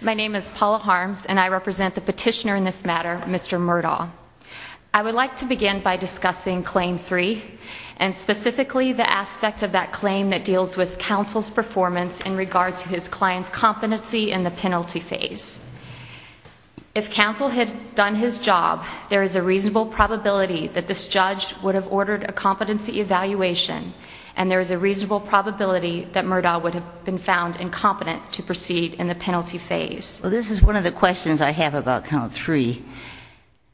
My name is Paula Harms, and I represent the petitioner in this matter, Mr. Murdaugh. I would like to begin by discussing Claim 3, and specifically the aspect of that claim that deals with counsel's performance in regard to his client's competency in the penalty phase. If counsel had done his job, there is a reasonable probability that this judge would have ordered a competency evaluation, and there is a reasonable probability that Murdaugh would have been found incompetent to proceed in the penalty phase. Well, this is one of the questions I have about Claim 3.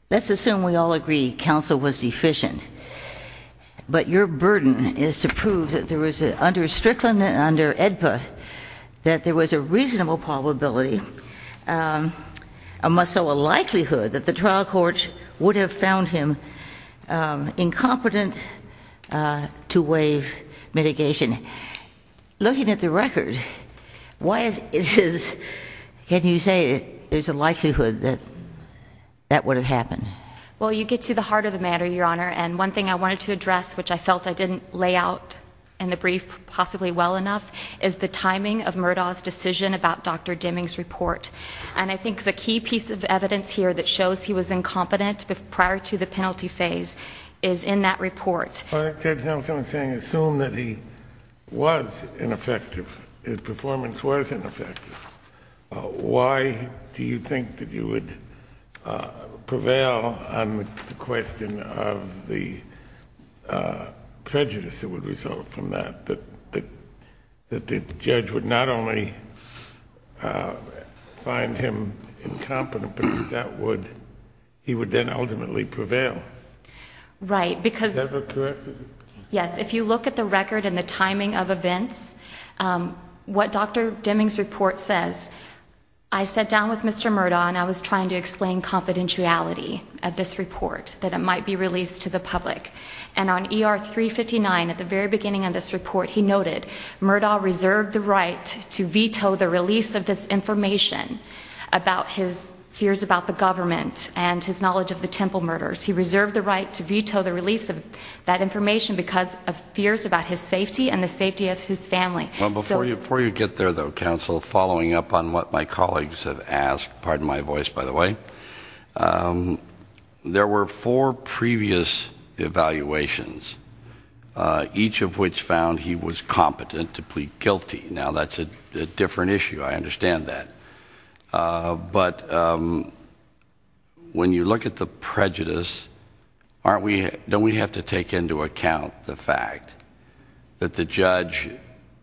Let's assume we all agree counsel was deficient, but your burden is to prove that there was, under Strickland and under AEDPA, that there was a reasonable probability, or more so a likelihood, that the trial court would have found him incompetent to waive mitigation. Looking at the record, can you say there's a likelihood that that would have happened? Well, you get to the heart of the matter, Your Honor. And one thing I wanted to address, which I felt I didn't lay out in the brief possibly well enough, is the timing of Murdaugh's decision about Dr. Deming's report. And I think the key piece of evidence here that shows he was incompetent prior to the penalty phase is in that report. Well, I think Judge Nelson was saying assume that he was ineffective, his performance was ineffective. Why do you think that you would prevail on the question of the prejudice that would result from that, that the judge would not only find him incompetent, but that he would then ultimately prevail? Right. Is that correct? Yes. If you look at the record and the timing of events, what Dr. Deming's report says, I sat down with Mr. Murdaugh and I was trying to explain confidentiality of this report, that it might be released to the public. And on ER 359, at the very beginning of this report, he noted Murdaugh reserved the right to veto the release of this information about his fears about the government and his knowledge of the Temple murders. He reserved the right to veto the release of that information because of fears about his safety and the safety of his family. Before you get there, though, counsel, following up on what my colleagues have asked, pardon my voice, by the way, there were four previous evaluations, each of which found he was competent to plead guilty. Now, that's a different issue. I understand that. But when you look at the prejudice, don't we have to take into account the fact that the judge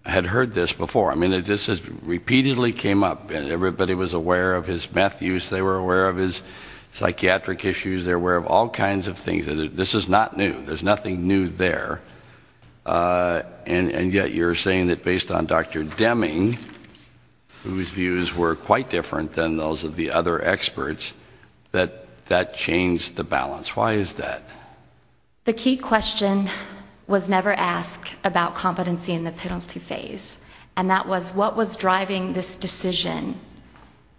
had heard this before? I mean, this has repeatedly came up. Everybody was aware of his meth use. They were aware of his psychiatric issues. They were aware of all kinds of things. This is not new. There's nothing new there. And yet you're saying that based on Dr. Deming, whose views were quite different than those of the other experts, that that changed the balance. Why is that? The key question was never asked about competency in the penalty phase, and that was what was driving this decision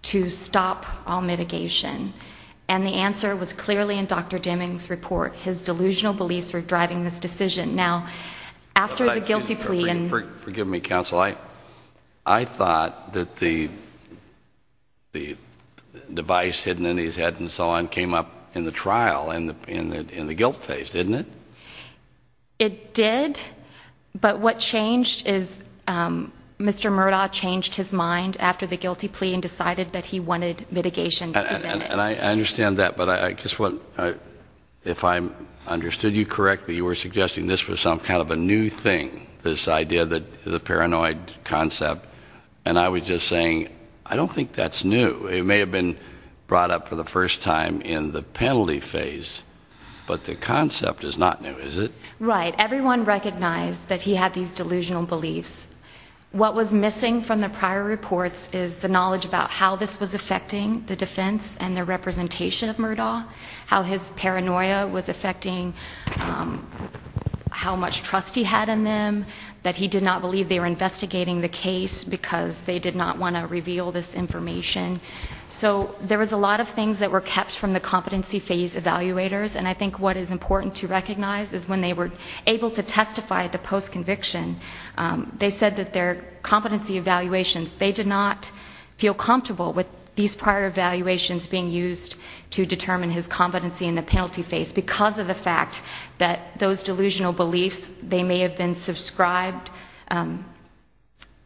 to stop all mitigation. And the answer was clearly in Dr. Deming's report. His delusional beliefs were driving this decision. Now, after the guilty plea and ‑‑ Forgive me, counsel. I thought that the device hidden in his head and so on came up in the trial, in the guilt phase, didn't it? It did, but what changed is Mr. Murdaugh changed his mind after the guilty plea and decided that he wanted mitigation to present it. I understand that, but if I understood you correctly, you were suggesting this was some kind of a new thing, this idea that the paranoid concept, and I was just saying, I don't think that's new. It may have been brought up for the first time in the penalty phase, but the concept is not new, is it? Right. Everyone recognized that he had these delusional beliefs. What was missing from the prior reports is the knowledge about how this was affecting the defense and the representation of Murdaugh, how his paranoia was affecting how much trust he had in them, that he did not believe they were investigating the case because they did not want to reveal this information. So there was a lot of things that were kept from the competency phase evaluators, and I think what is important to recognize is when they were able to testify at the post-conviction, they said that their competency evaluations, they did not feel comfortable with these prior evaluations being used to determine his competency in the penalty phase because of the fact that those delusional beliefs, they may have been subscribed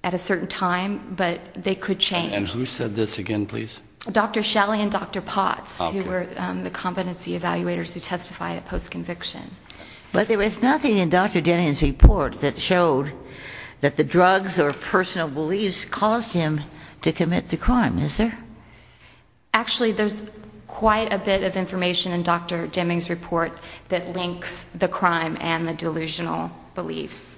at a certain time, but they could change. And who said this again, please? Dr. Shelley and Dr. Potts, who were the competency evaluators who testified at post-conviction. But there was nothing in Dr. Deming's report that showed that the drugs or personal beliefs caused him to commit the crime, is there? Actually, there's quite a bit of information in Dr. Deming's report that links the crime and the delusional beliefs.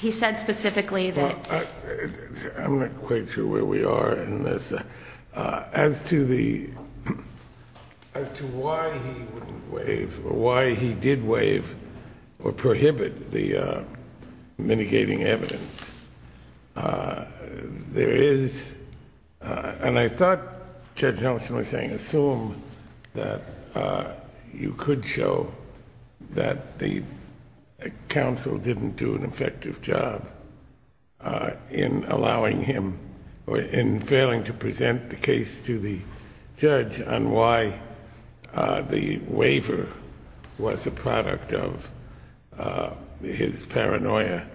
He said specifically that... I'm not quite sure where we are in this. As to the, as to why he wouldn't waive or why he did waive or prohibit the mitigating evidence, there is, and I thought Judge Nelson was saying assume that you could show that the counsel didn't do an effective job in allowing him, or in failing to present the case to the judge on why the waiver was a product of his paranoia.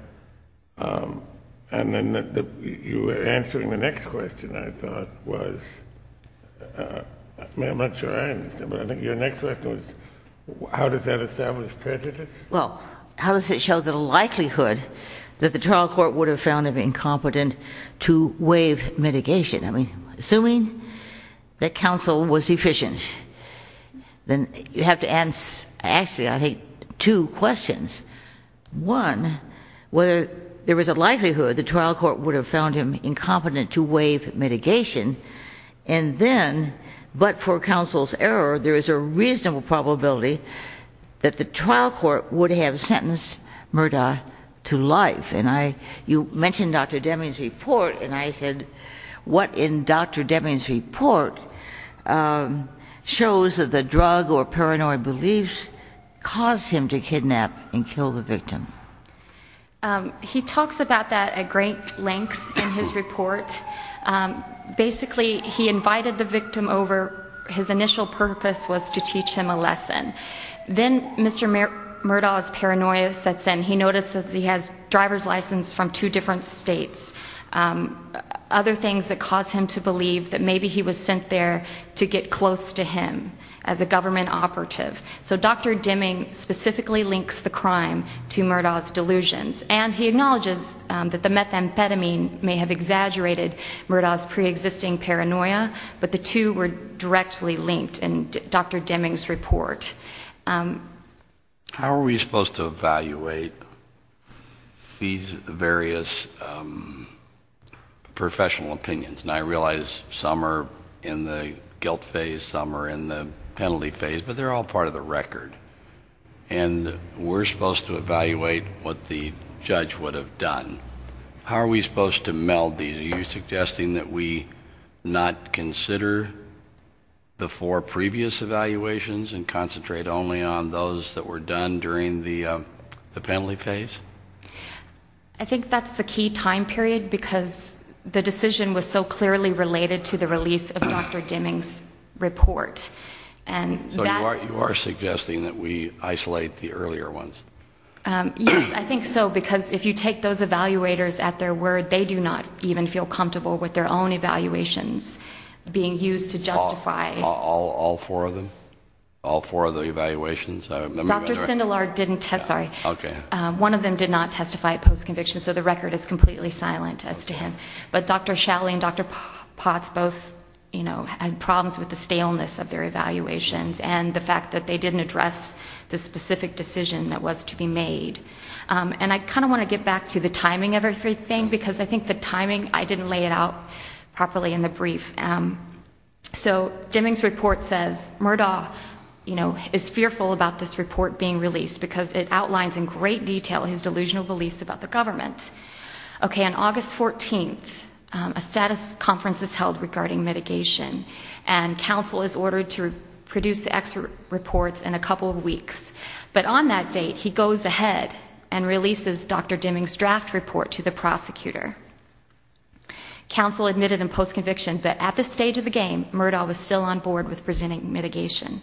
And then you were answering the next question, I thought, was, I'm not sure I understand, but I think your next question was, how does that establish prejudice? Well, how does it show the likelihood that the trial court would have found him incompetent to waive mitigation? I mean, assuming that counsel was efficient, then you have to answer, actually, I think, two questions. One, whether there was a likelihood the trial court would have found him incompetent to waive mitigation, and then, but for counsel's error, there is a reasonable probability that the trial court would have sentenced Murdaugh to life. And I, you mentioned Dr. Deming's report, and I said, what in Dr. Deming's report shows that the drug or paranoia beliefs caused him to kidnap and kill the victim? He talks about that at great length in his report. Basically, he invited the victim over. His initial purpose was to teach him a lesson. Then Mr. Murdaugh's paranoia sets in. He notices he has driver's license from two different states. Other things that cause him to believe that maybe he was sent there to get close to him as a government operative. So Dr. Deming specifically links the crime to Murdaugh's delusions, and he acknowledges that the methamphetamine may have exaggerated Murdaugh's preexisting paranoia, but the two were directly linked in Dr. Deming's report. How are we supposed to evaluate these various professional opinions? And I realize some are in the guilt phase, some are in the penalty phase, but they're all part of the record. And we're supposed to evaluate what the judge would have done. How are we supposed to meld these? Are you suggesting that we not consider the four previous evaluations and concentrate only on those that were done during the penalty phase? I think that's the key time period because the decision was so clearly related to the release of Dr. Deming's report. So you are suggesting that we isolate the earlier ones? Yes, I think so, because if you take those evaluators at their word, they do not even feel comfortable with their own evaluations being used to justify. All four of them? All four of the evaluations? Dr. Sindelar didn't testify. One of them did not testify post-conviction, so the record is completely silent as to him. But Dr. Shalley and Dr. Potts both had problems with the staleness of their evaluations and the fact that they didn't address the specific decision that was to be made. And I kind of want to get back to the timing of everything, because I think the timing, I didn't lay it out properly in the brief. So Deming's report says Murdoch is fearful about this report being released because it outlines in great detail his delusional beliefs about the government. Okay, on August 14th, a status conference is held regarding mitigation, and counsel is ordered to produce the X reports in a couple of weeks. But on that date, he goes ahead and releases Dr. Deming's draft report to the prosecutor. Counsel admitted in post-conviction that at this stage of the game, Murdoch was still on board with presenting mitigation.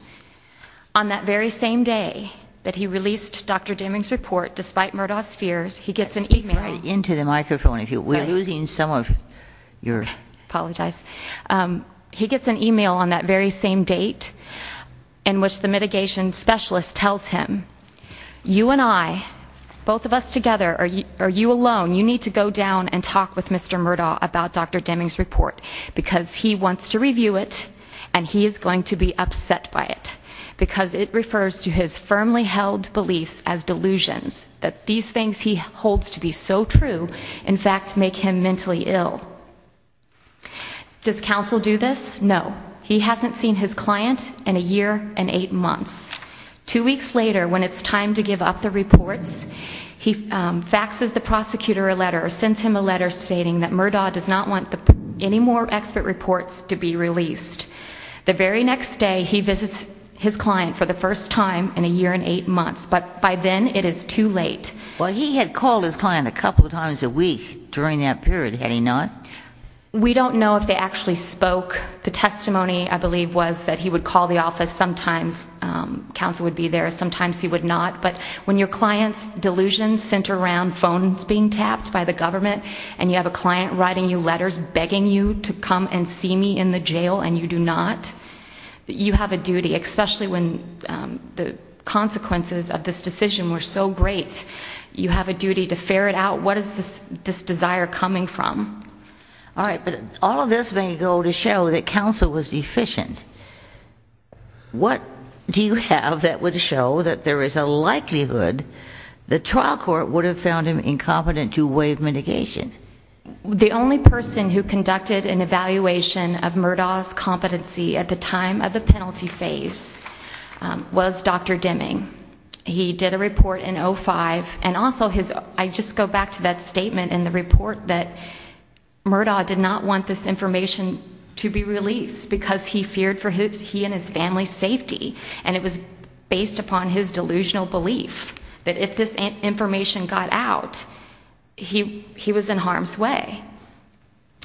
On that very same day that he released Dr. Deming's report, despite Murdoch's fears, he gets an e-mail. We're losing some of your... Apologize. He gets an e-mail on that very same date in which the mitigation specialist tells him, you and I, both of us together, or you alone, you need to go down and talk with Mr. Murdoch about Dr. Deming's report because he wants to review it and he is going to be upset by it because it refers to his firmly held beliefs as delusions, that these things he holds to be so true, in fact, make him mentally ill. Does counsel do this? No. He hasn't seen his client in a year and eight months. Two weeks later, when it's time to give up the reports, he faxes the prosecutor a letter or sends him a letter stating that Murdoch does not want any more expert reports to be released. The very next day, he visits his client for the first time in a year and eight months, but by then it is too late. Well, he had called his client a couple of times a week during that period, had he not? We don't know if they actually spoke. The testimony, I believe, was that he would call the office sometimes. Counsel would be there. Sometimes he would not. But when your client's delusions center around phones being tapped by the government and you have a client writing you letters begging you to come and see me in the jail and you do not, you have a duty, especially when the consequences of this decision were so great, you have a duty to ferret out what is this desire coming from. All right, but all of this may go to show that counsel was deficient. What do you have that would show that there is a likelihood the trial court would have found him incompetent to waive mitigation? The only person who conducted an evaluation of Murdaugh's competency at the time of the penalty phase was Dr. Deming. He did a report in 2005, and also I just go back to that statement in the report that Murdaugh did not want this information to be released because he feared for he and his family's safety, and it was based upon his delusional belief that if this information got out, he was in harm's way.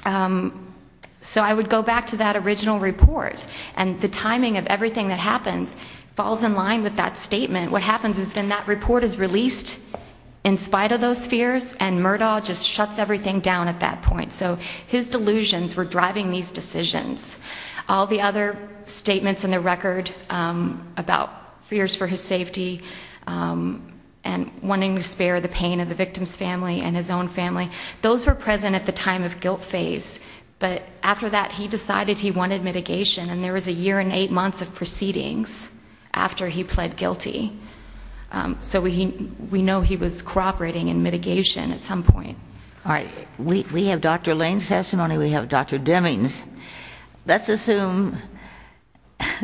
So I would go back to that original report, and the timing of everything that happens falls in line with that statement. What happens is then that report is released in spite of those fears, and Murdaugh just shuts everything down at that point. So his delusions were driving these decisions. All the other statements in the record about fears for his safety and wanting to spare the pain of the victim's family and his own family, those were present at the time of guilt phase, but after that he decided he wanted mitigation, and there was a year and eight months of proceedings after he pled guilty. So we know he was cooperating in mitigation at some point. All right. We have Dr. Lane's testimony. We have Dr. Deming's. Let's assume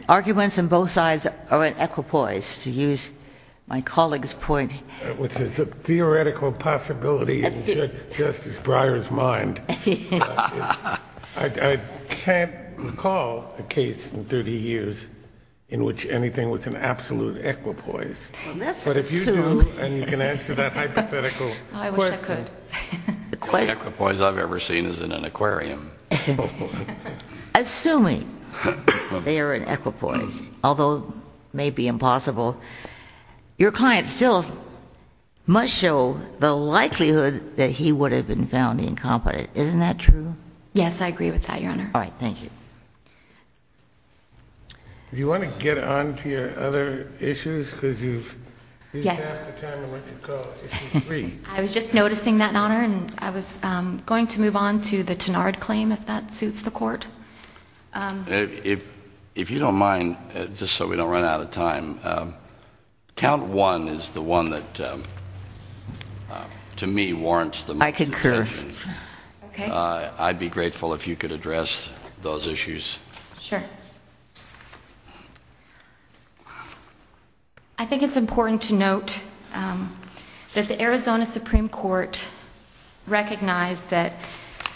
arguments on both sides are an equipoise, to use my colleague's point. Which is a theoretical possibility in Justice Breyer's mind. I can't recall a case in 30 years in which anything was an absolute equipoise. Let's assume. And you can answer that hypothetical question. I wish I could. The only equipoise I've ever seen is in an aquarium. Assuming they are an equipoise, although it may be impossible, your client still must show the likelihood that he would have been found incompetent. Isn't that true? Yes, I agree with that, Your Honor. All right. Thank you. Do you want to get on to your other issues? Because you've used half the time in what you call issue three. I was just noticing that, Your Honor, and I was going to move on to the Tenard claim, if that suits the Court. If you don't mind, just so we don't run out of time, count one is the one that, to me, warrants the most attention. I concur. I'd be grateful if you could address those issues. Sure. I think it's important to note that the Arizona Supreme Court recognized that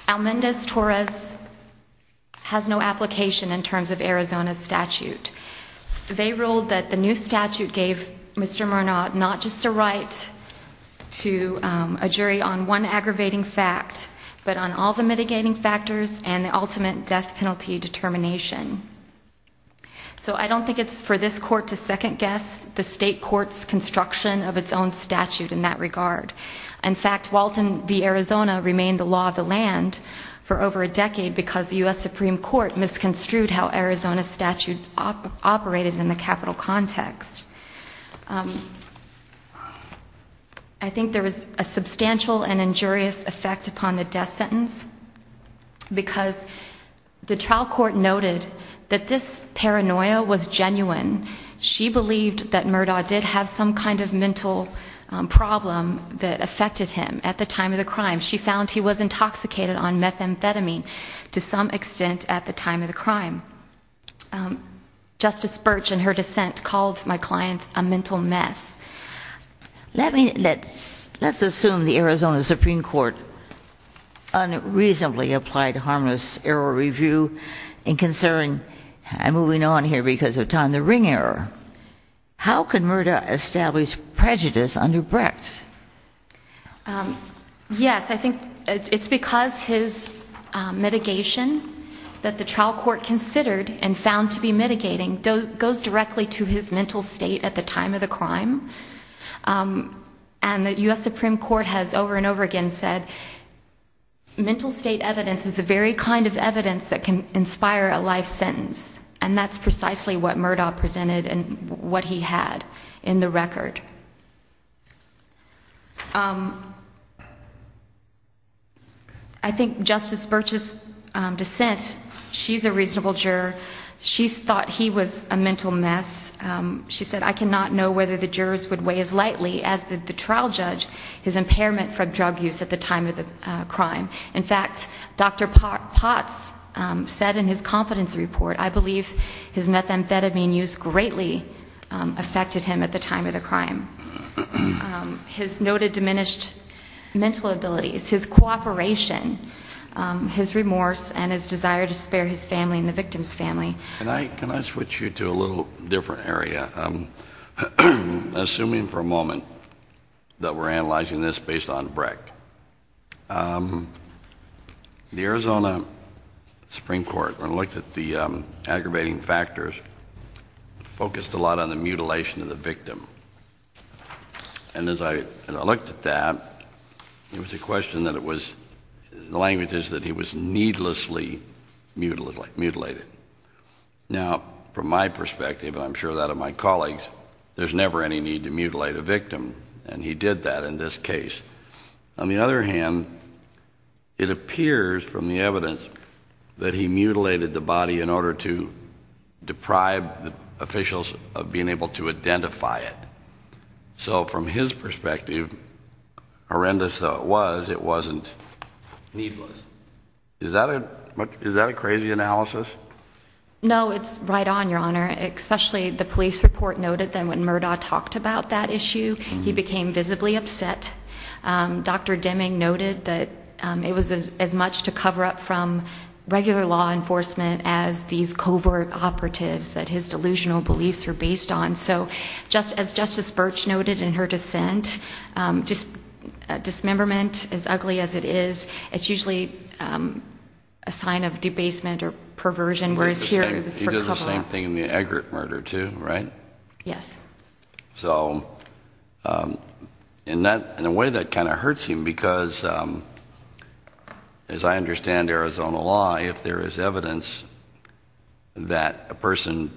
Almendez-Torres has no application in terms of Arizona's statute. They ruled that the new statute gave Mr. Murnau not just a right to a jury on one aggravating fact, but on all the mitigating factors and the ultimate death penalty determination. So I don't think it's for this Court to second-guess the state court's construction of its own statute in that regard. In fact, Walton v. Arizona remained the law of the land for over a decade because the U.S. Supreme Court misconstrued how Arizona's statute operated in the capital context. I think there was a substantial and injurious effect upon the death sentence because the trial court noted that this paranoia was genuine. She believed that Murnau did have some kind of mental problem that affected him at the time of the crime. She found he was intoxicated on methamphetamine to some extent at the time of the crime. Justice Birch, in her dissent, called my client a mental mess. Let's assume the Arizona Supreme Court unreasonably applied harmless error review in considering, and moving on here because of time, the ring error. How could Murnau establish prejudice under Brecht? Yes, I think it's because his mitigation that the trial court considered and found to be mitigating goes directly to his mental state at the time of the crime. And the U.S. Supreme Court has over and over again said mental state evidence is the very kind of evidence that can inspire a life sentence. And that's precisely what Murnau presented and what he had in the record. I think Justice Birch's dissent, she's a reasonable juror. She thought he was a mental mess. She said, I cannot know whether the jurors would weigh as lightly as the trial judge his impairment from drug use at the time of the crime. In fact, Dr. Potts said in his competency report, I believe his methamphetamine use greatly affected him at the time of the crime. His noted diminished mental abilities, his cooperation, his remorse, and his desire to spare his family and the victim's family. Can I switch you to a little different area? Assuming for a moment that we're analyzing this based on Brecht, the Arizona Supreme Court, when it looked at the aggravating factors, focused a lot on the mutilation of the victim. And as I looked at that, it was a question that it was, the language is that he was needlessly mutilated. Now, from my perspective, and I'm sure that of my colleagues, there's never any need to mutilate a victim, and he did that in this case. On the other hand, it appears from the evidence that he mutilated the body in order to deprive officials of being able to identify it. So from his perspective, horrendous though it was, it wasn't needless. Is that a crazy analysis? No, it's right on, Your Honor. Especially the police report noted that when Murdaugh talked about that issue, he became visibly upset. Dr. Deming noted that it was as much to cover up from regular law enforcement as these covert operatives that his delusional beliefs were based on. So as Justice Brecht noted in her dissent, dismemberment, as ugly as it is, it's usually a sign of debasement or perversion, whereas here it was for cover-up. He did the same thing in the Eggert murder, too, right? Yes. So in a way that kind of hurts him, because as I understand Arizona law, if there is evidence that a person,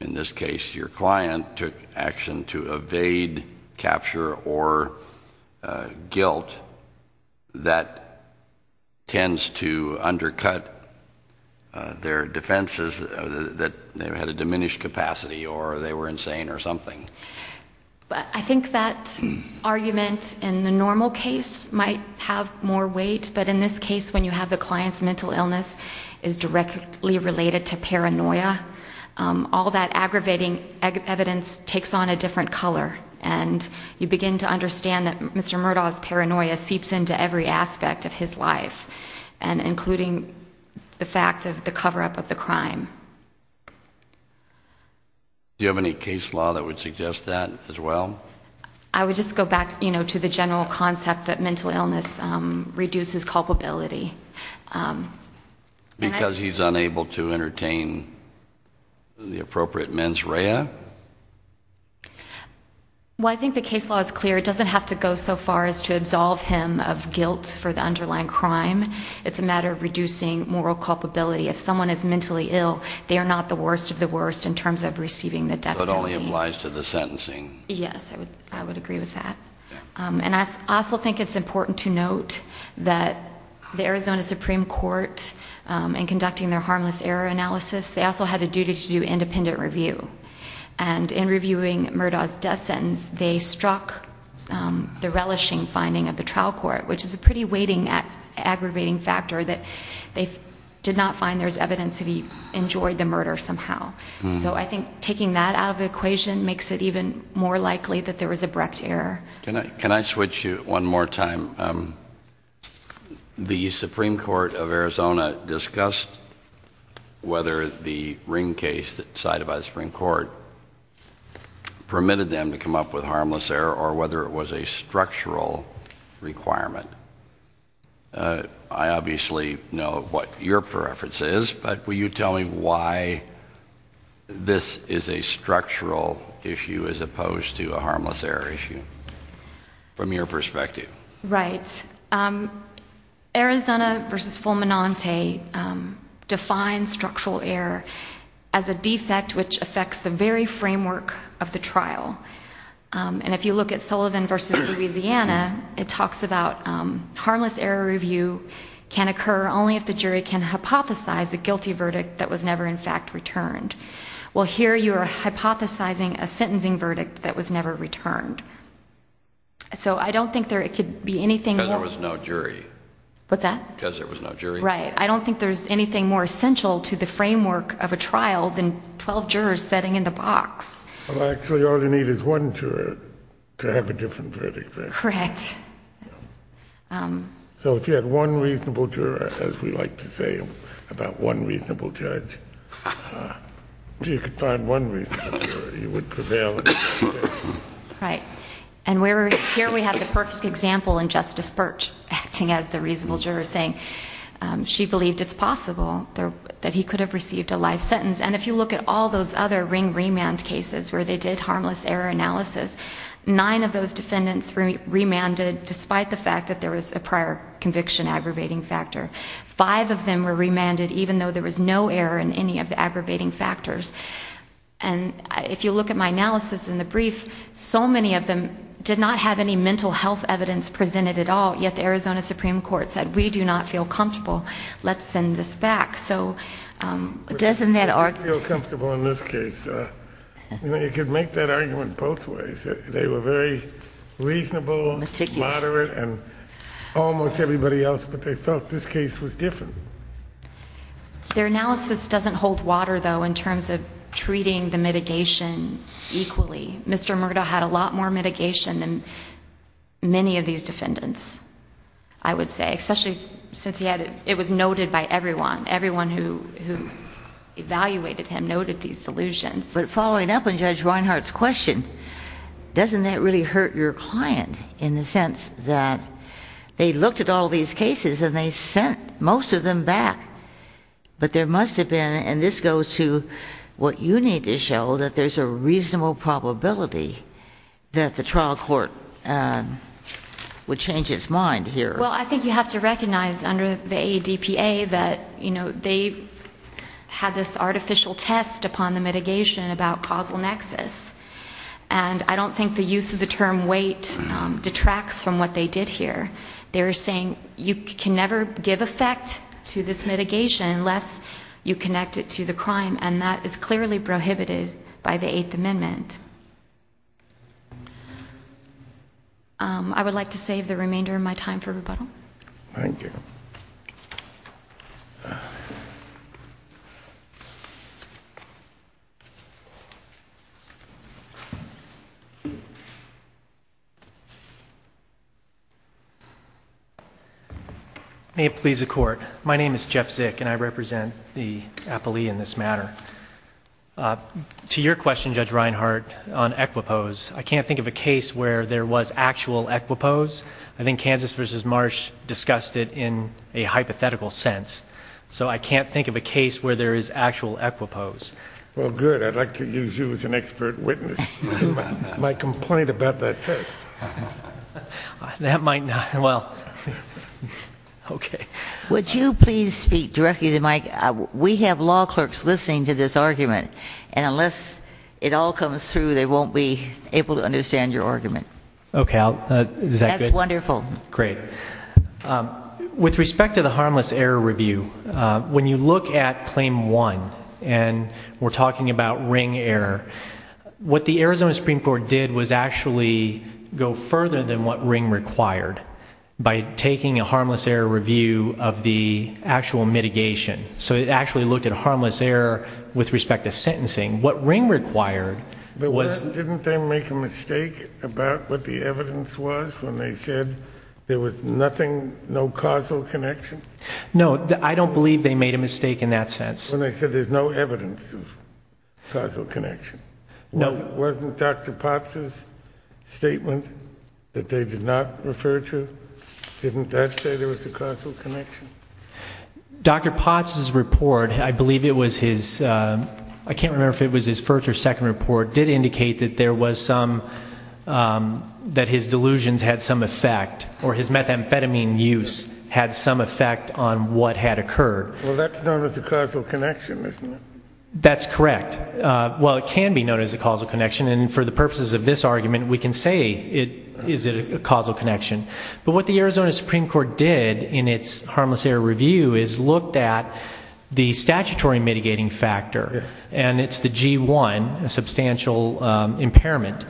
in this case your client, took action to evade capture or guilt, that tends to undercut their defenses that they had a diminished capacity or they were insane or something. I think that argument in the normal case might have more weight, but in this case when you have the client's mental illness is directly related to paranoia. All that aggravating evidence takes on a different color, and you begin to understand that Mr. Murdaugh's paranoia seeps into every aspect of his life, including the fact of the cover-up of the crime. Do you have any case law that would suggest that as well? I would just go back to the general concept that mental illness reduces culpability. Because he's unable to entertain the appropriate mens rea? Well, I think the case law is clear. It doesn't have to go so far as to absolve him of guilt for the underlying crime. It's a matter of reducing moral culpability. If someone is mentally ill, they are not the worst of the worst in terms of receiving the death penalty. So it only applies to the sentencing. Yes, I would agree with that. And I also think it's important to note that the Arizona Supreme Court, in conducting their harmless error analysis, they also had a duty to do independent review. And in reviewing Murdaugh's death sentence, they struck the relishing finding of the trial court, which is a pretty weighting, aggravating factor that they did not find there's evidence that he enjoyed the murder somehow. So I think taking that out of the equation makes it even more likely that there was abrupt error. Can I switch you one more time? The Supreme Court of Arizona discussed whether the Ring case decided by the Supreme Court permitted them to come up with harmless error or whether it was a structural requirement. I obviously know what your preference is, but will you tell me why this is a structural issue as opposed to a harmless error issue from your perspective? Right. Arizona v. Fulminante defines structural error as a defect which affects the very framework of the trial. And if you look at Sullivan v. Louisiana, it talks about harmless error review can occur only if the jury can hypothesize a guilty verdict that was never in fact returned. Well, here you are hypothesizing a sentencing verdict that was never returned. So I don't think there could be anything more... Because there was no jury. What's that? Because there was no jury. Right. I don't think there's anything more essential to the framework of a trial than 12 jurors sitting in the box. Well, actually, all you need is one juror to have a different verdict. Correct. So if you had one reasonable juror, as we like to say about one reasonable judge, if you could find one reasonable juror, you would prevail in that case. Right. And here we have the perfect example in Justice Birch acting as the reasonable juror, saying she believed it's possible that he could have received a life sentence. And if you look at all those other ring remand cases where they did harmless error analysis, nine of those defendants remanded despite the fact that there was a prior conviction aggravating factor. Five of them were remanded even though there was no error in any of the aggravating factors. And if you look at my analysis in the brief, so many of them did not have any mental health evidence presented at all, yet the Arizona Supreme Court said, we do not feel comfortable. Let's send this back. So doesn't that argue... We don't feel comfortable in this case. You could make that argument both ways. They were very reasonable, moderate, and almost everybody else, but they felt this case was different. Their analysis doesn't hold water, though, in terms of treating the mitigation equally. Mr. Murdaugh had a lot more mitigation than many of these defendants, I would say, especially since it was noted by everyone. Everyone who evaluated him noted these delusions. But following up on Judge Reinhart's question, doesn't that really hurt your client in the sense that they looked at all these cases and they sent most of them back, but there must have been, and this goes to what you need to show, that there's a reasonable probability that the trial court would change its mind here. Well, I think you have to recognize under the AEDPA that, you know, they had this artificial test upon the mitigation about causal nexus, and I don't think the use of the term weight detracts from what they did here. They're saying you can never give effect to this mitigation unless you connect it to the crime, and that is clearly prohibited by the Eighth Amendment. I would like to save the remainder of my time for rebuttal. Thank you. May it please the Court. My name is Jeff Zick, and I represent the appellee in this matter. To your question, Judge Reinhart, on Equipose, I can't think of a case where there was actual Equipose. I think Kansas v. Marsh discussed it in a hypothetical sense, so I can't think of a case where there is actual Equipose. Well, good. I'd like to use you as an expert witness for my complaint about that test. That might not... Well, okay. Would you please speak directly to the mic? We have law clerks listening to this argument, and unless it all comes through, they won't be able to understand your argument. Okay. Well, is that good? That's wonderful. Great. With respect to the harmless error review, when you look at Claim 1, and we're talking about ring error, what the Arizona Supreme Court did was actually go further than what ring required by taking a harmless error review of the actual mitigation. So it actually looked at harmless error with respect to sentencing. What ring required was... What the evidence was when they said there was nothing, no causal connection? No, I don't believe they made a mistake in that sense. When they said there's no evidence of causal connection. No. Wasn't Dr. Potts' statement that they did not refer to, didn't that say there was a causal connection? Dr. Potts' report, I believe it was his... I can't remember if it was his first or second report, did indicate that there was some... that his delusions had some effect or his methamphetamine use had some effect on what had occurred. Well, that's known as a causal connection, isn't it? That's correct. Well, it can be known as a causal connection, and for the purposes of this argument, we can say is it a causal connection. But what the Arizona Supreme Court did in its harmless error review is looked at the statutory mitigating factor, and it's the G1, a substantial impairment,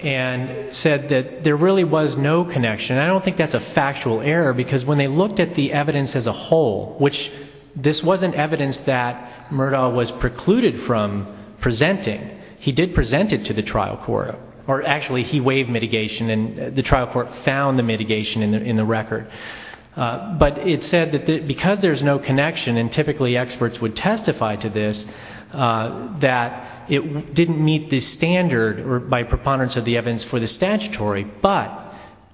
and said that there really was no connection. I don't think that's a factual error because when they looked at the evidence as a whole, which this wasn't evidence that Murdaugh was precluded from presenting, he did present it to the trial court, or actually he waived mitigation and the trial court found the mitigation in the record. But it said that because there's no connection and typically experts would testify to this, that it didn't meet the standard by preponderance of the evidence for the statutory, but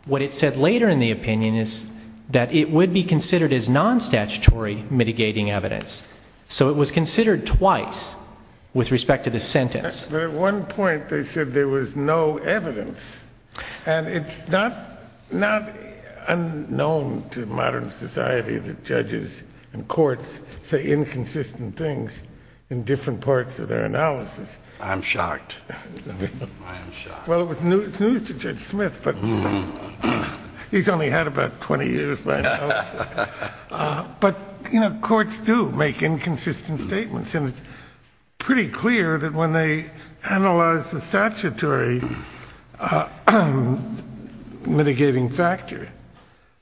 what it said later in the opinion is that it would be considered as non-statutory mitigating evidence. So it was considered twice with respect to the sentence. But at one point they said there was no evidence, and it's not unknown to modern society that judges and courts say inconsistent things in different parts of their analysis. I'm shocked. I am shocked. Well, it's news to Judge Smith, but he's only had about 20 years by now. But, you know, courts do make inconsistent statements, and it's pretty clear that when they analyze the statutory mitigating factor,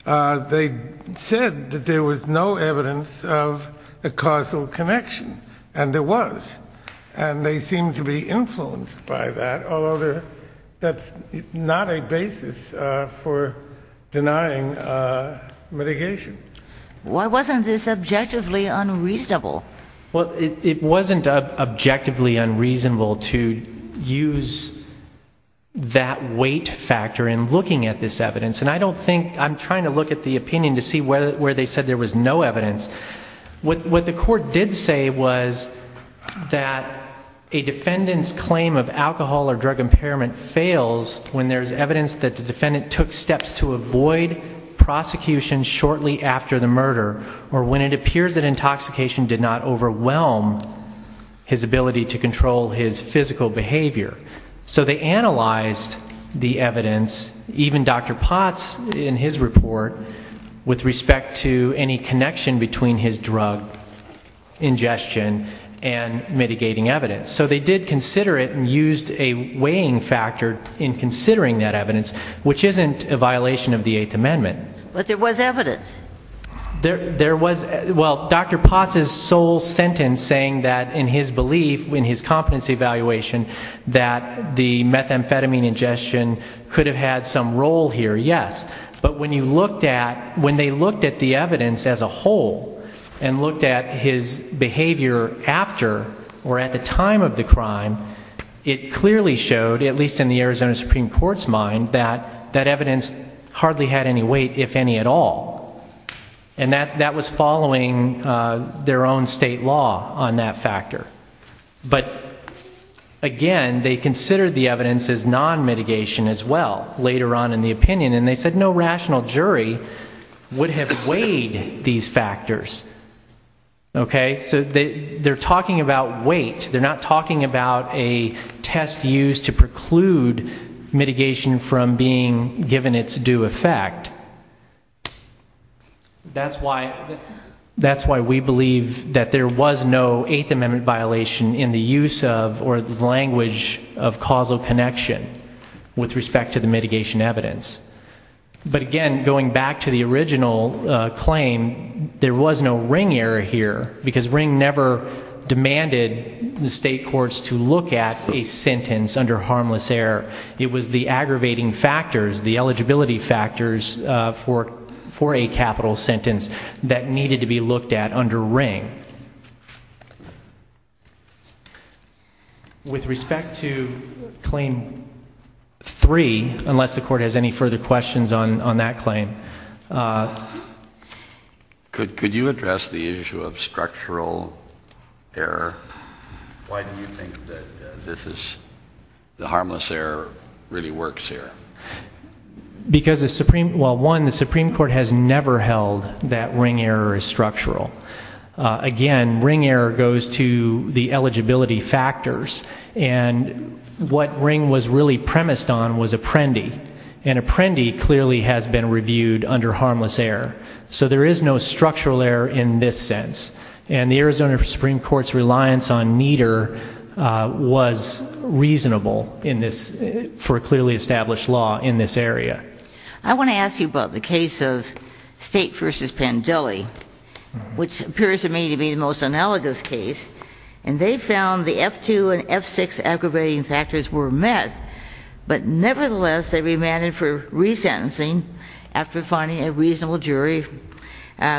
they said that there was no evidence of a causal connection, and there was, and they seem to be influenced by that, although that's not a basis for denying mitigation. Why wasn't this objectively unreasonable? Well, it wasn't objectively unreasonable to use that weight factor in looking at this evidence, and I don't think, I'm trying to look at the opinion to see where they said there was no evidence. What the court did say was that a defendant's claim of alcohol or drug impairment fails when there's evidence that the defendant took steps to avoid prosecution shortly after the murder, or when it appears that intoxication did not overwhelm his ability to control his physical behavior. So they analyzed the evidence, even Dr. Potts in his report, with respect to any connection between his drug ingestion and mitigating evidence. So they did consider it and used a weighing factor in considering that evidence, which isn't a violation of the Eighth Amendment. But there was evidence. There was, well, Dr. Potts' sole sentence saying that in his belief, in his competency evaluation, that the methamphetamine ingestion could have had some role here, yes. But when they looked at the evidence as a whole and looked at his behavior after or at the time of the crime, it clearly showed, at least in the Arizona Supreme Court's mind, that that evidence hardly had any weight, if any at all. But, again, they considered the evidence as non-mitigation as well later on in the opinion, and they said no rational jury would have weighed these factors. Okay? So they're talking about weight. They're not talking about a test used to preclude mitigation from being given its due effect. That's why we believe that there was no Eighth Amendment violation in the use of or the language of causal connection with respect to the mitigation evidence. But, again, going back to the original claim, there was no ring error here, because ring never demanded the state courts to look at a sentence under harmless error. It was the aggravating factors, the eligibility factors for a capital sentence that needed to be looked at under ring. With respect to Claim 3, unless the Court has any further questions on that claim... Could you address the issue of structural error? Why do you think that the harmless error really works here? Because, well, one, the Supreme Court has never held that ring error is structural. Again, ring error goes to the eligibility factors, and what ring was really premised on was Apprendi, and Apprendi clearly has been reviewed under harmless error. So there is no structural error in this sense, and the Arizona Supreme Court's reliance on NEDER was reasonable for a clearly established law in this area. I want to ask you about the case of State v. Pandeli, which appears to me to be the most analogous case, and they found the F2 and F6 aggravating factors were met, but nevertheless they remanded for resentencing after finding a reasonable jury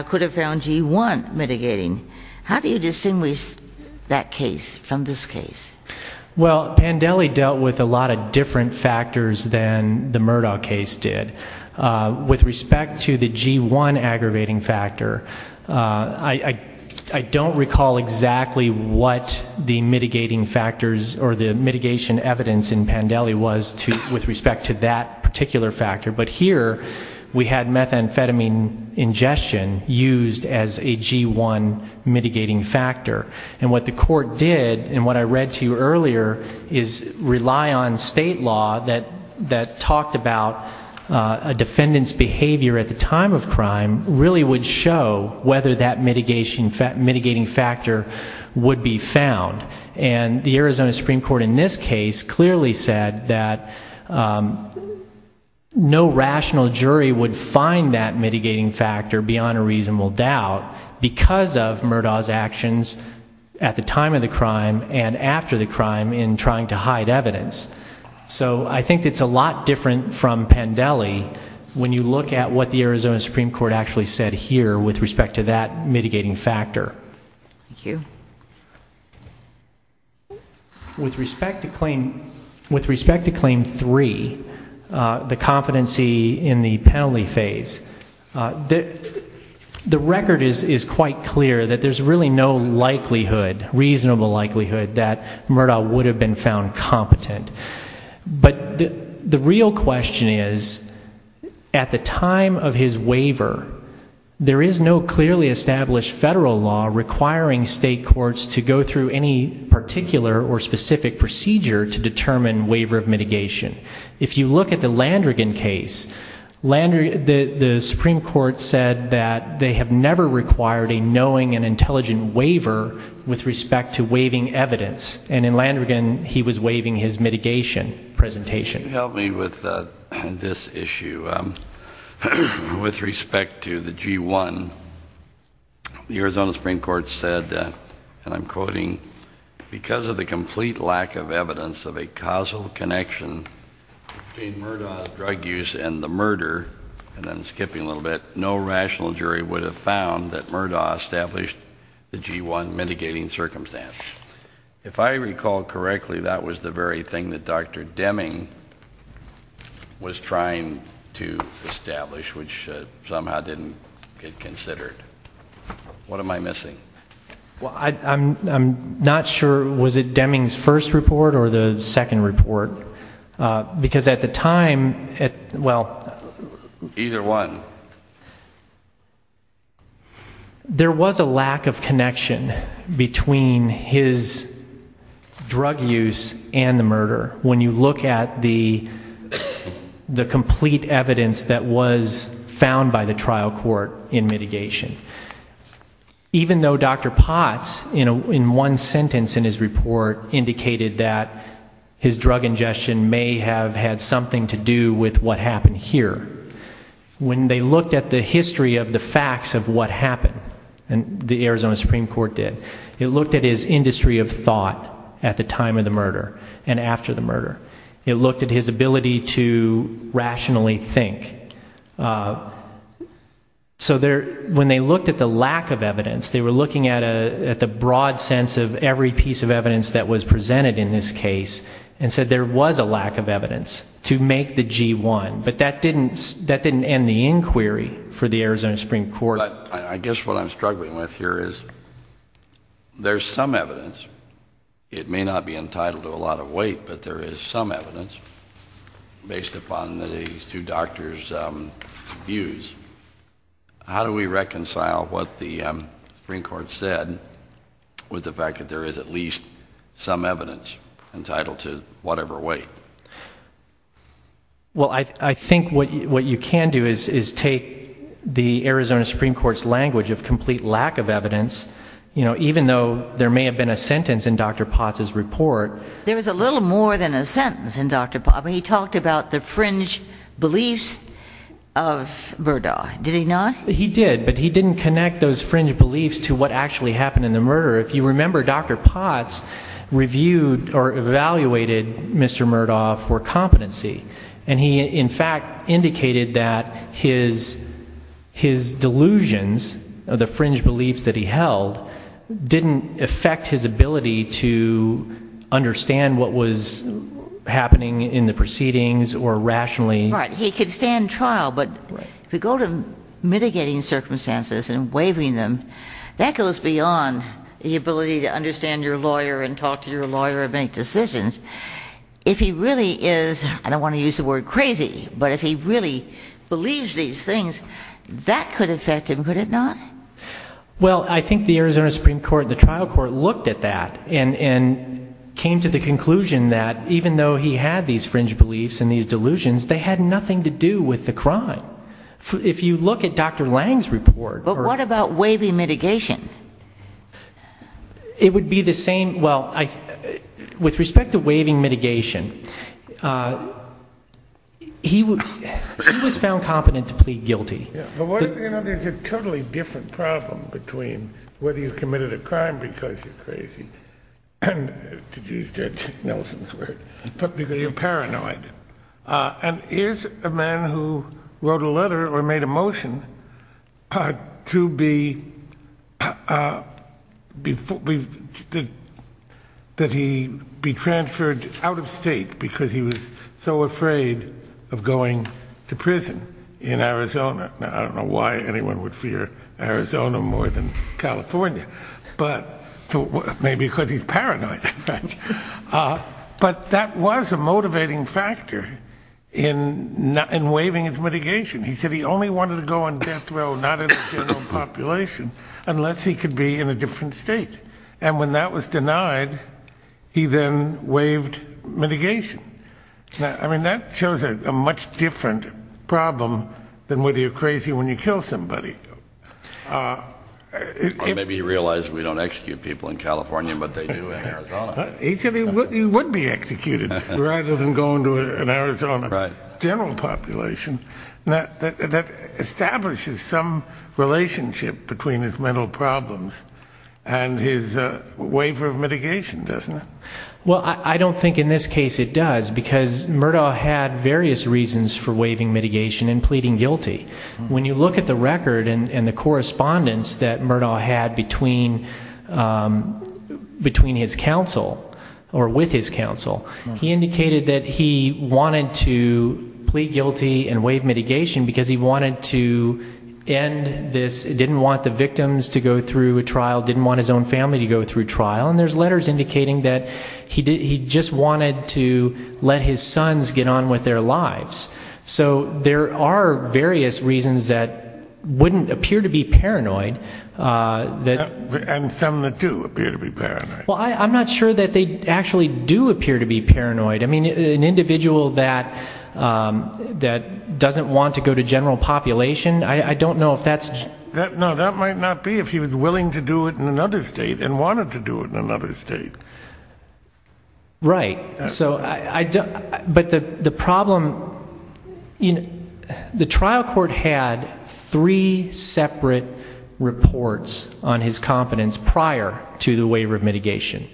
could have found G1 mitigating. How do you distinguish that case from this case? Well, Pandeli dealt with a lot of different factors than the Murdaugh case did. With respect to the G1 aggravating factor, I don't recall exactly what the mitigating factors or the mitigation evidence in Pandeli was with respect to that particular factor, but here we had methamphetamine ingestion used as a G1 mitigating factor. And what the court did, and what I read to you earlier, is rely on state law that talked about a defendant's behavior at the time of crime really would show whether that mitigating factor would be found. And the Arizona Supreme Court in this case clearly said that no rational jury would find that mitigating factor beyond a reasonable doubt because of Murdaugh's actions at the time of the crime and after the crime in trying to hide evidence. So I think it's a lot different from Pandeli when you look at what the Arizona Supreme Court actually said here with respect to that mitigating factor. Thank you. With respect to Claim 3, the competency in the penalty phase, the record is quite clear that there's really no likelihood, reasonable likelihood, that Murdaugh would have been found competent. But the real question is, at the time of his waiver, there is no clearly established federal law requiring state courts to go through any particular or specific procedure to determine waiver of mitigation. If you look at the Landrigan case, the Supreme Court said that they have never required a knowing and intelligent waiver with respect to waiving evidence. And in Landrigan, he was waiving his mitigation presentation. Help me with this issue. With respect to the G-1, the Arizona Supreme Court said, and I'm quoting, because of the complete lack of evidence of a causal connection between Murdaugh's drug use and the murder, and then skipping a little bit, no rational jury would have found that Murdaugh established the G-1 mitigating circumstance. If I recall correctly, that was the very thing that Dr. Deming was trying to establish, which somehow didn't get considered. What am I missing? I'm not sure, was it Deming's first report or the second report? Because at the time... Either one. There was a lack of connection between his drug use and the murder when you look at the complete evidence that was found by the trial court in mitigation. Even though Dr. Potts, in one sentence in his report, indicated that his drug ingestion may have had something to do with what happened here, when they looked at the history of the facts of what happened, and the Arizona Supreme Court did, it looked at his industry of thought at the time of the murder and after the murder. It looked at his ability to rationally think. So when they looked at the lack of evidence, they were looking at the broad sense of every piece of evidence that was presented in this case, and said there was a lack of evidence to make the G-1. But that didn't end the inquiry for the Arizona Supreme Court. I guess what I'm struggling with here is there's some evidence. It may not be entitled to a lot of weight, but there is some evidence, based upon these two doctors' views. How do we reconcile what the Supreme Court said with the fact that there is at least some evidence entitled to whatever weight? Well, I think what you can do is take the Arizona Supreme Court's language of complete lack of evidence, even though there may have been a sentence in Dr. Potts's report. There was a little more than a sentence in Dr. Potts. He talked about the fringe beliefs of Murdaugh, did he not? He did, but he didn't connect those fringe beliefs to what actually happened in the murder. If you remember, Dr. Potts reviewed or evaluated Mr. Murdaugh for competency, and he in fact indicated that his delusions, the fringe beliefs that he held, didn't affect his ability to understand what was happening in the proceedings or rationally. Right, he could stand trial, but if you go to mitigating circumstances and waiving them, that goes beyond the ability to understand your lawyer and talk to your lawyer and make decisions. If he really is, I don't want to use the word crazy, but if he really believes these things, that could affect him, could it not? Well, I think the Arizona Supreme Court and the trial court looked at that and came to the conclusion that even though he had these fringe beliefs and these delusions, they had nothing to do with the crime. If you look at Dr. Lange's report... But what about waiving mitigation? It would be the same. Well, with respect to waiving mitigation, he was found competent to plead guilty. You know, there's a totally different problem between whether you committed a crime because you're crazy, to use Judge Nelson's word, but because you're paranoid. And is a man who wrote a letter or made a motion to be transferred out of state because he was so afraid of going to prison in Arizona. I don't know why anyone would fear Arizona more than California. Maybe because he's paranoid. But that was a motivating factor in waiving his mitigation. He said he only wanted to go on death row, not in the general population, unless he could be in a different state. And when that was denied, he then waived mitigation. I mean, that shows a much different problem than whether you're crazy when you kill somebody. Or maybe he realized we don't execute people in California, but they do in Arizona. He said he would be executed rather than go into an Arizona general population. That establishes some relationship between his mental problems and his waiver of mitigation, doesn't it? Well, I don't think in this case it does, because Murdaugh had various reasons for waiving mitigation and pleading guilty. When you look at the record and the correspondence that Murdaugh had between his counsel, or with his counsel, he indicated that he wanted to plead guilty and waive mitigation because he wanted to end this, didn't want the victims to go through a trial, didn't want his own family to go through trial. And there's letters indicating that he just wanted to let his sons get on with their lives. So there are various reasons that wouldn't appear to be paranoid. And some that do appear to be paranoid. Well, I'm not sure that they actually do appear to be paranoid. I mean, an individual that doesn't want to go to general population, I don't know if that's... No, that might not be if he was willing to do it in another state and wanted to do it in another state. Right. But the problem, the trial court had three separate reports on his competence prior to the waiver of mitigation.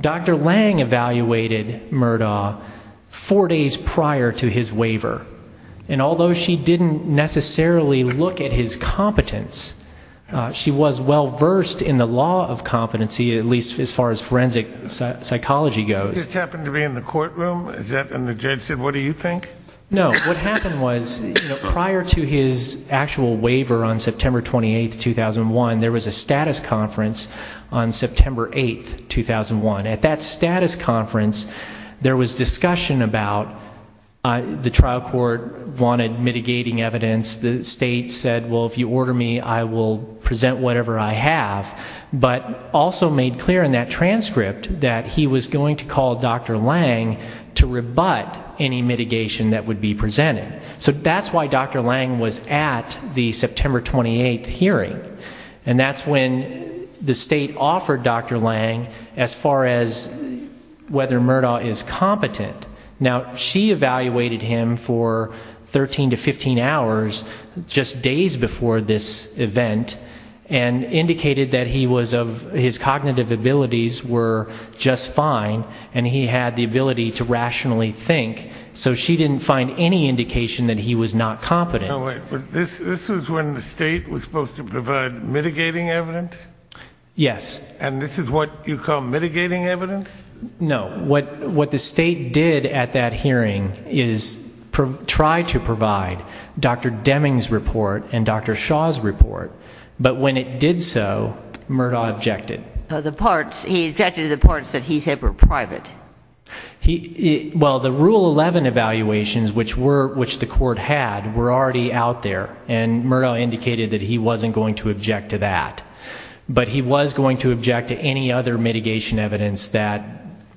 Dr. Lange evaluated Murdaugh four days prior to his waiver. And although she didn't necessarily look at his competence, she was well-versed in the law of competency, at least as far as forensic psychology goes. Did this just happen to be in the courtroom? Is that when the judge said, what do you think? No, what happened was prior to his actual waiver on September 28, 2001, there was a status conference on September 8, 2001. At that status conference, there was discussion about the trial court wanted mitigating evidence. The state said, well, if you order me, I will present whatever I have. But also made clear in that transcript that he was going to call Dr. Lange to rebut any mitigation that would be presented. So that's why Dr. Lange was at the September 28 hearing. And that's when the state offered Dr. Lange as far as whether Murdaugh is competent. Now, she evaluated him for 13 to 15 hours just days before this event and indicated that his cognitive abilities were just fine and he had the ability to rationally think. So she didn't find any indication that he was not competent. This was when the state was supposed to provide mitigating evidence? Yes. And this is what you call mitigating evidence? No. What the state did at that hearing is try to provide Dr. Deming's report and Dr. Shaw's report. But when it did so, Murdaugh objected. He objected to the parts that he said were private. Well, the Rule 11 evaluations, which the court had, were already out there, and Murdaugh indicated that he wasn't going to object to that. But he was going to object to any other mitigation evidence that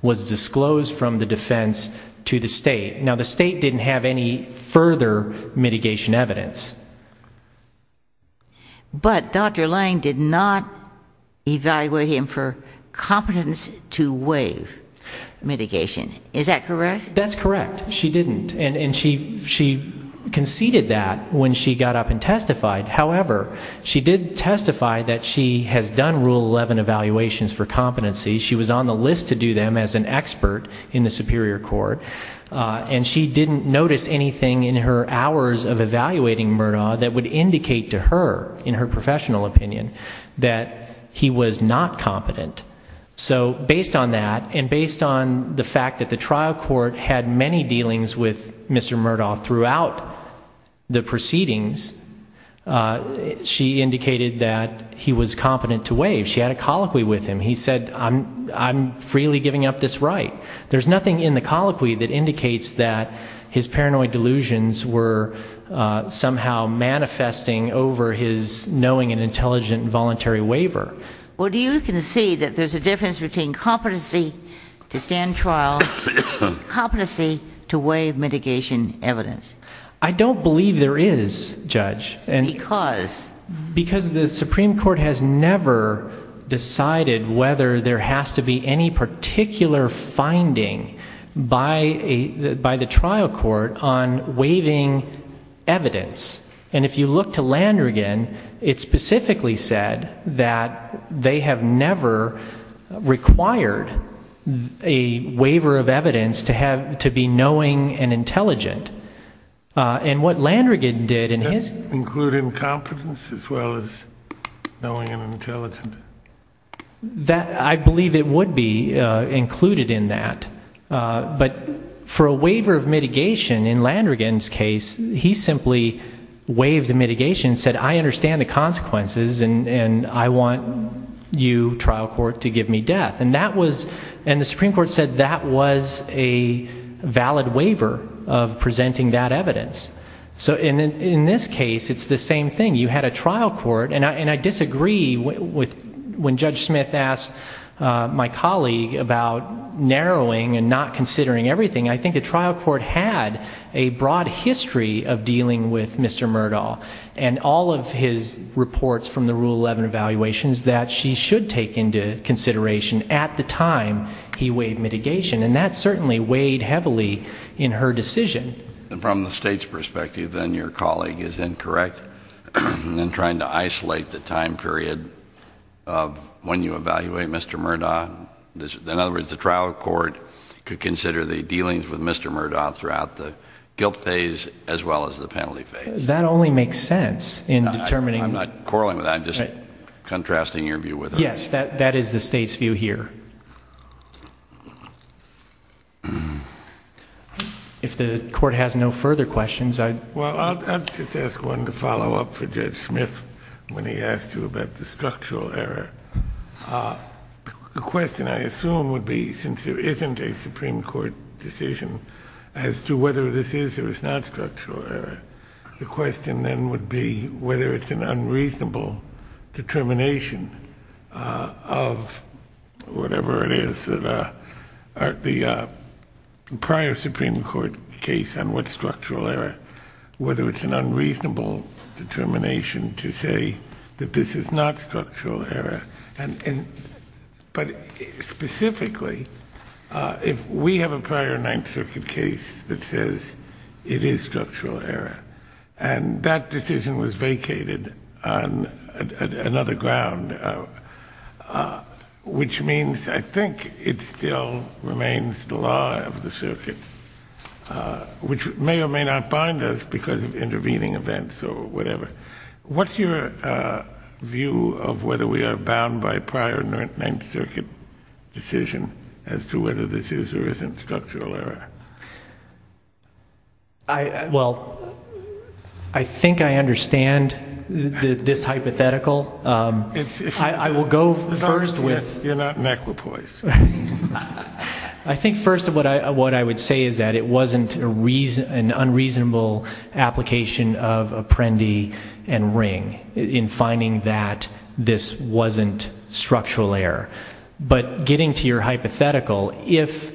was disclosed from the defense to the state. Now, the state didn't have any further mitigation evidence. But Dr. Lange did not evaluate him for competence to waive mitigation. Is that correct? That's correct. She didn't. And she conceded that when she got up and testified. However, she did testify that she has done Rule 11 evaluations for competency. She was on the list to do them as an expert in the superior court. And she didn't notice anything in her hours of evaluating Murdaugh that would indicate to her, in her professional opinion, that he was not competent. So based on that and based on the fact that the trial court had many dealings with Mr. Murdaugh throughout the proceedings, she indicated that he was competent to waive. She had a colloquy with him. He said, I'm freely giving up this right. There's nothing in the colloquy that indicates that his paranoid delusions were somehow manifesting over his knowing and intelligent voluntary waiver. Well, you can see that there's a difference between competency to stand trial, competency to waive mitigation evidence. I don't believe there is, Judge. Because? Because the Supreme Court has never decided whether there has to be any particular finding by the trial court on waiving evidence. And if you look to Landrigan, it specifically said that they have never required a waiver of evidence to be knowing and intelligent. And what Landrigan did in his... Including competence as well as knowing and intelligent. I believe it would be included in that. But for a waiver of mitigation in Landrigan's case, he simply waived the mitigation and said, I understand the consequences and I want you, trial court, to give me death. And the Supreme Court said that was a valid waiver of presenting that evidence. So in this case, it's the same thing. You had a trial court. And I disagree with when Judge Smith asked my colleague about narrowing and not considering everything. I think the trial court had a broad history of dealing with Mr. Murdaugh and all of his reports from the Rule 11 evaluations that she should take into consideration at the time he waived mitigation. And that certainly weighed heavily in her decision. And from the state's perspective, then your colleague is incorrect in trying to isolate the time period of when you evaluate Mr. Murdaugh. In other words, the trial court could consider the dealings with Mr. Murdaugh throughout the guilt phase as well as the penalty phase. That only makes sense in determining... I'm not quarreling with that. I'm just contrasting your view with hers. Yes, that is the state's view here. If the court has no further questions, I'd... Well, I'll just ask one to follow up for Judge Smith when he asked you about the structural error. The question, I assume, would be, since there isn't a Supreme Court decision as to whether this is or is not structural error, the question then would be whether it's an unreasonable determination of whatever it is that the prior Supreme Court case on what's structural error, whether it's an unreasonable determination to say that this is not structural error. But specifically, if we have a prior Ninth Circuit case that says it is structural error and that decision was vacated on another ground, which means I think it still remains the law of the circuit, which may or may not bind us because of intervening events or whatever. What's your view of whether we are bound by prior Ninth Circuit decision as to whether this is or isn't structural error? Well, I think I understand this hypothetical. I will go first with... You're not an equipoise. I think first of what I would say is that it wasn't an unreasonable application of Apprendi and Ring in finding that this wasn't structural error. But getting to your hypothetical, if...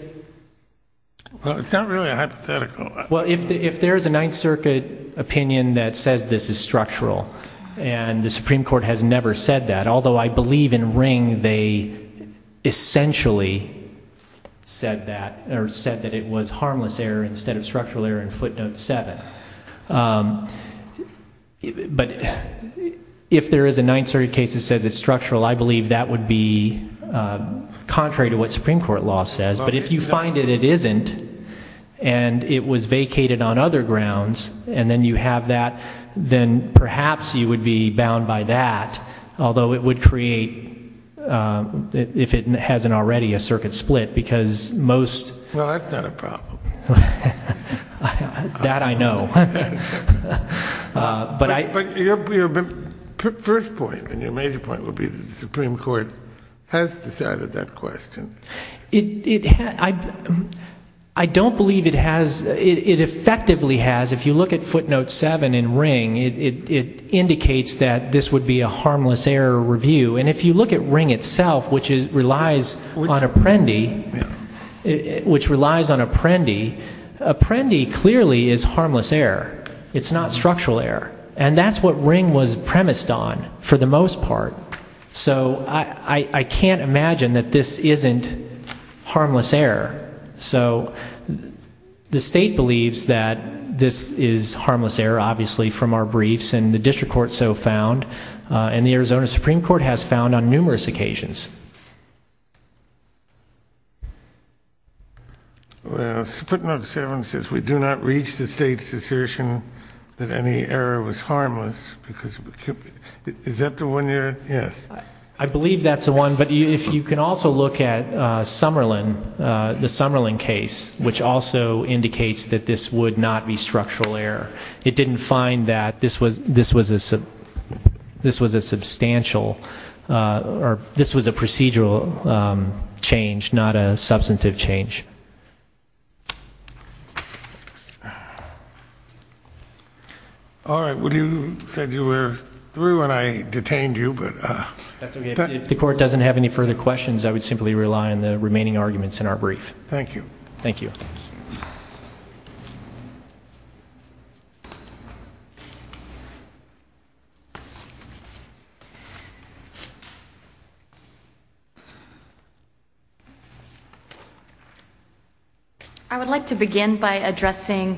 Well, it's not really a hypothetical. Well, if there is a Ninth Circuit opinion that says this is structural and the Supreme Court has never said that, although I believe in Ring they essentially said that or said that it was harmless error instead of structural error in footnote 7. But if there is a Ninth Circuit case that says it's structural, I believe that would be contrary to what Supreme Court law says. But if you find that it isn't and it was vacated on other grounds and then you have that, then perhaps you would be bound by that, although it would create, if it hasn't already, a circuit split because most... Well, that's not a problem. That I know. But your first point and your major point would be that the Supreme Court has decided that question. I don't believe it has. It effectively has. If you look at footnote 7 in Ring, it indicates that this would be a harmless error review. And if you look at Ring itself, which relies on Apprendi, Apprendi clearly is harmless error. It's not structural error. And that's what Ring was premised on for the most part. So I can't imagine that this isn't harmless error. So the state believes that this is harmless error, obviously, from our briefs, and the district court so found, and the Arizona Supreme Court has found on numerous occasions. Footnote 7 says we do not reach the state's assertion that any error was harmless. Is that the one you're... Yes. I believe that's the one. But if you can also look at Summerlin, the Summerlin case, which also indicates that this would not be structural error. It didn't find that this was a substantial or this was a procedural change, not a substantive change. All right. Well, you said you were through and I detained you, but... That's okay. If the court doesn't have any further questions, I would simply rely on the remaining arguments in our brief. Thank you. Thank you. I would like to begin by addressing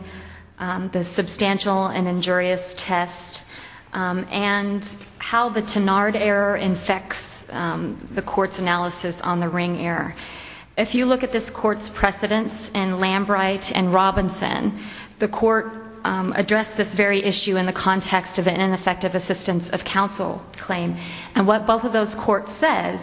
the substantial and injurious test and how the Tenard error infects the court's analysis on the Ring error. If you look at this court's precedents in Lambright and Robinson, the court addressed this very issue in the context of an ineffective assistance of counsel claim. And what both of those courts said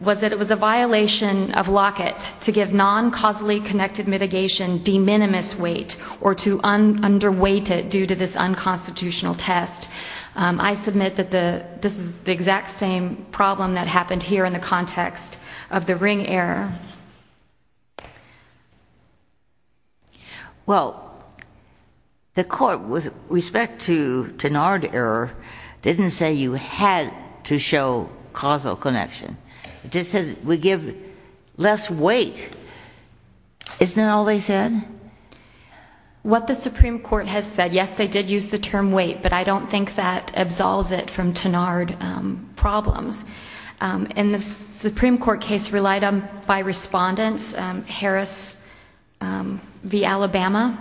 was that it was a violation of Lockett to give non-causally connected mitigation de minimis weight or to underweight it due to this unconstitutional test. I submit that this is the exact same problem that happened here in the context of the Ring error. Well, the court, with respect to Tenard error, didn't say you had to show causal connection. It just said we give less weight. Isn't that all they said? What the Supreme Court has said, yes, they did use the term weight, but I don't think that absolves it from Tenard problems. In the Supreme Court case relied on by respondents, Harris v. Alabama,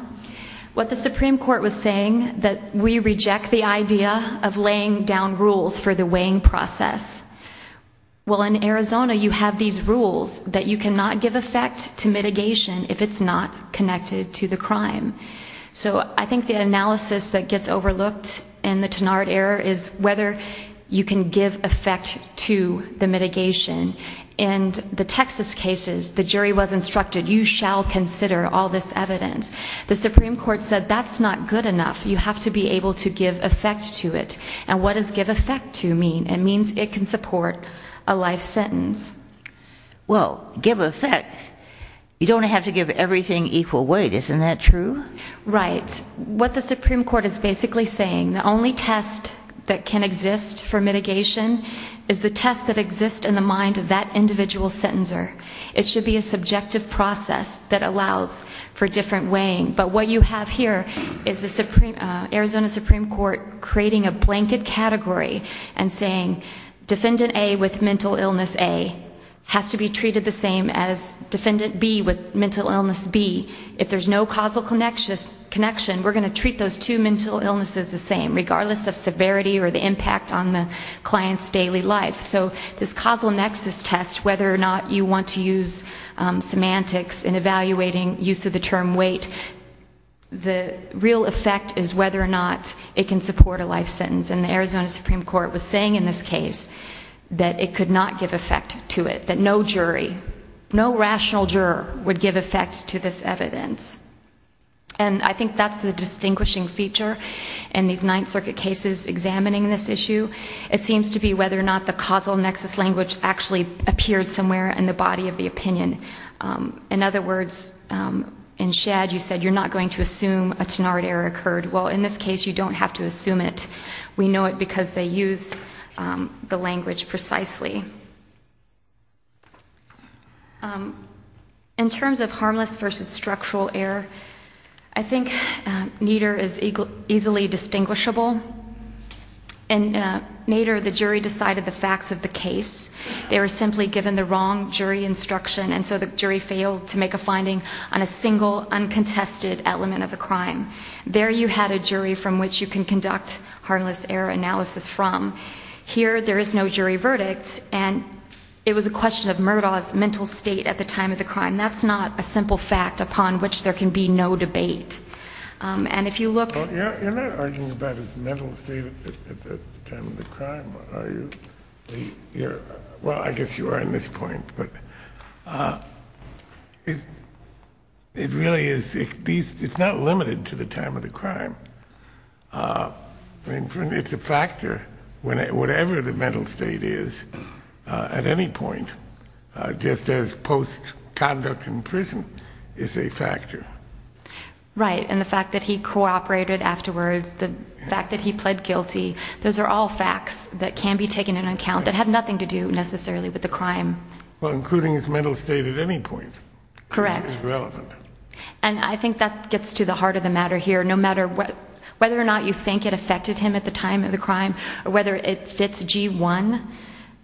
what the Supreme Court was saying that we reject the idea of laying down rules for the weighing process. Well, in Arizona, you have these rules that you cannot give effect to mitigation if it's not connected to the crime. So I think the analysis that gets overlooked in the Tenard error is whether you can give effect to the mitigation. In the Texas cases, the jury was instructed, you shall consider all this evidence. The Supreme Court said that's not good enough. You have to be able to give effect to it. And what does give effect to mean? It means it can support a life sentence. Well, give effect, you don't have to give everything equal weight. Isn't that true? Right. What the Supreme Court is basically saying, the only test that can exist for mitigation is the test that exists in the mind of that individual sentencer. It should be a subjective process that allows for different weighing. But what you have here is the Arizona Supreme Court creating a blanket category and saying Defendant A with Mental Illness A has to be treated the same as Defendant B with Mental Illness B. If there's no causal connection, we're going to treat those two mental illnesses the same, regardless of severity or the impact on the client's daily life. So this causal nexus test, whether or not you want to use semantics in evaluating use of the term weight, the real effect is whether or not it can support a life sentence. And the Arizona Supreme Court was saying in this case that it could not give effect to it, that no jury, no rational juror would give effect to this evidence. And I think that's the distinguishing feature in these Ninth Circuit cases examining this issue. It seems to be whether or not the causal nexus language actually appeared somewhere in the body of the opinion. In other words, in Shadd, you said you're not going to assume a Tenard error occurred. Well, in this case you don't have to assume it. We know it because they use the language precisely. In terms of harmless versus structural error, I think Nader is easily distinguishable. In Nader, the jury decided the facts of the case. They were simply given the wrong jury instruction, and so the jury failed to make a finding on a single uncontested element of the crime. There you had a jury from which you can conduct harmless error analysis from. Here there is no jury verdict, and it was a question of Murdaugh's mental state at the time of the crime. That's not a simple fact upon which there can be no debate. And if you look... Well, you're not arguing about his mental state at the time of the crime, are you? Well, I guess you are on this point, but it really is... It's not limited to the time of the crime. It's a factor, whatever the mental state is, at any point, just as post-conduct in prison is a factor. Right, and the fact that he cooperated afterwards, the fact that he pled guilty, those are all facts that can be taken into account that have nothing to do necessarily with the crime. Well, including his mental state at any point is relevant. And I think that gets to the heart of the matter here. No matter whether or not you think it affected him at the time of the crime or whether it fits G1,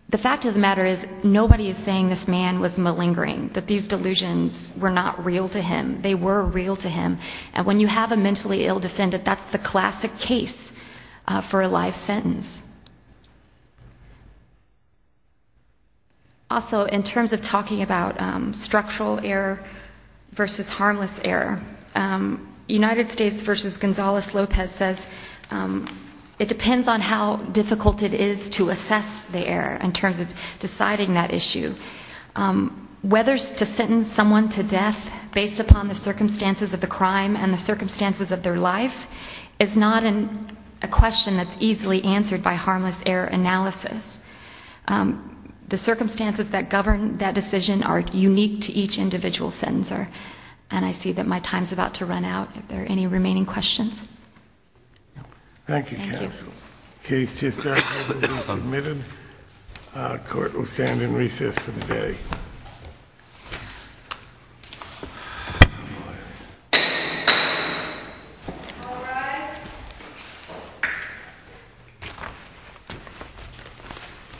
the fact of the matter is nobody is saying this man was malingering, that these delusions were not real to him. They were real to him. And when you have a mentally ill defendant, that's the classic case for a life sentence. Also, in terms of talking about structural error versus harmless error, United States versus Gonzales-Lopez says it depends on how difficult it is to assess the error in terms of deciding that issue. Whether to sentence someone to death based upon the circumstances of the crime and the circumstances of their life is not a question that's easily answered by harmless error analysis. The circumstances that govern that decision are unique to each individual sentencer. And I see that my time is about to run out. Are there any remaining questions? Thank you, counsel. The case to start will be submitted. Court will stand in recess for the day.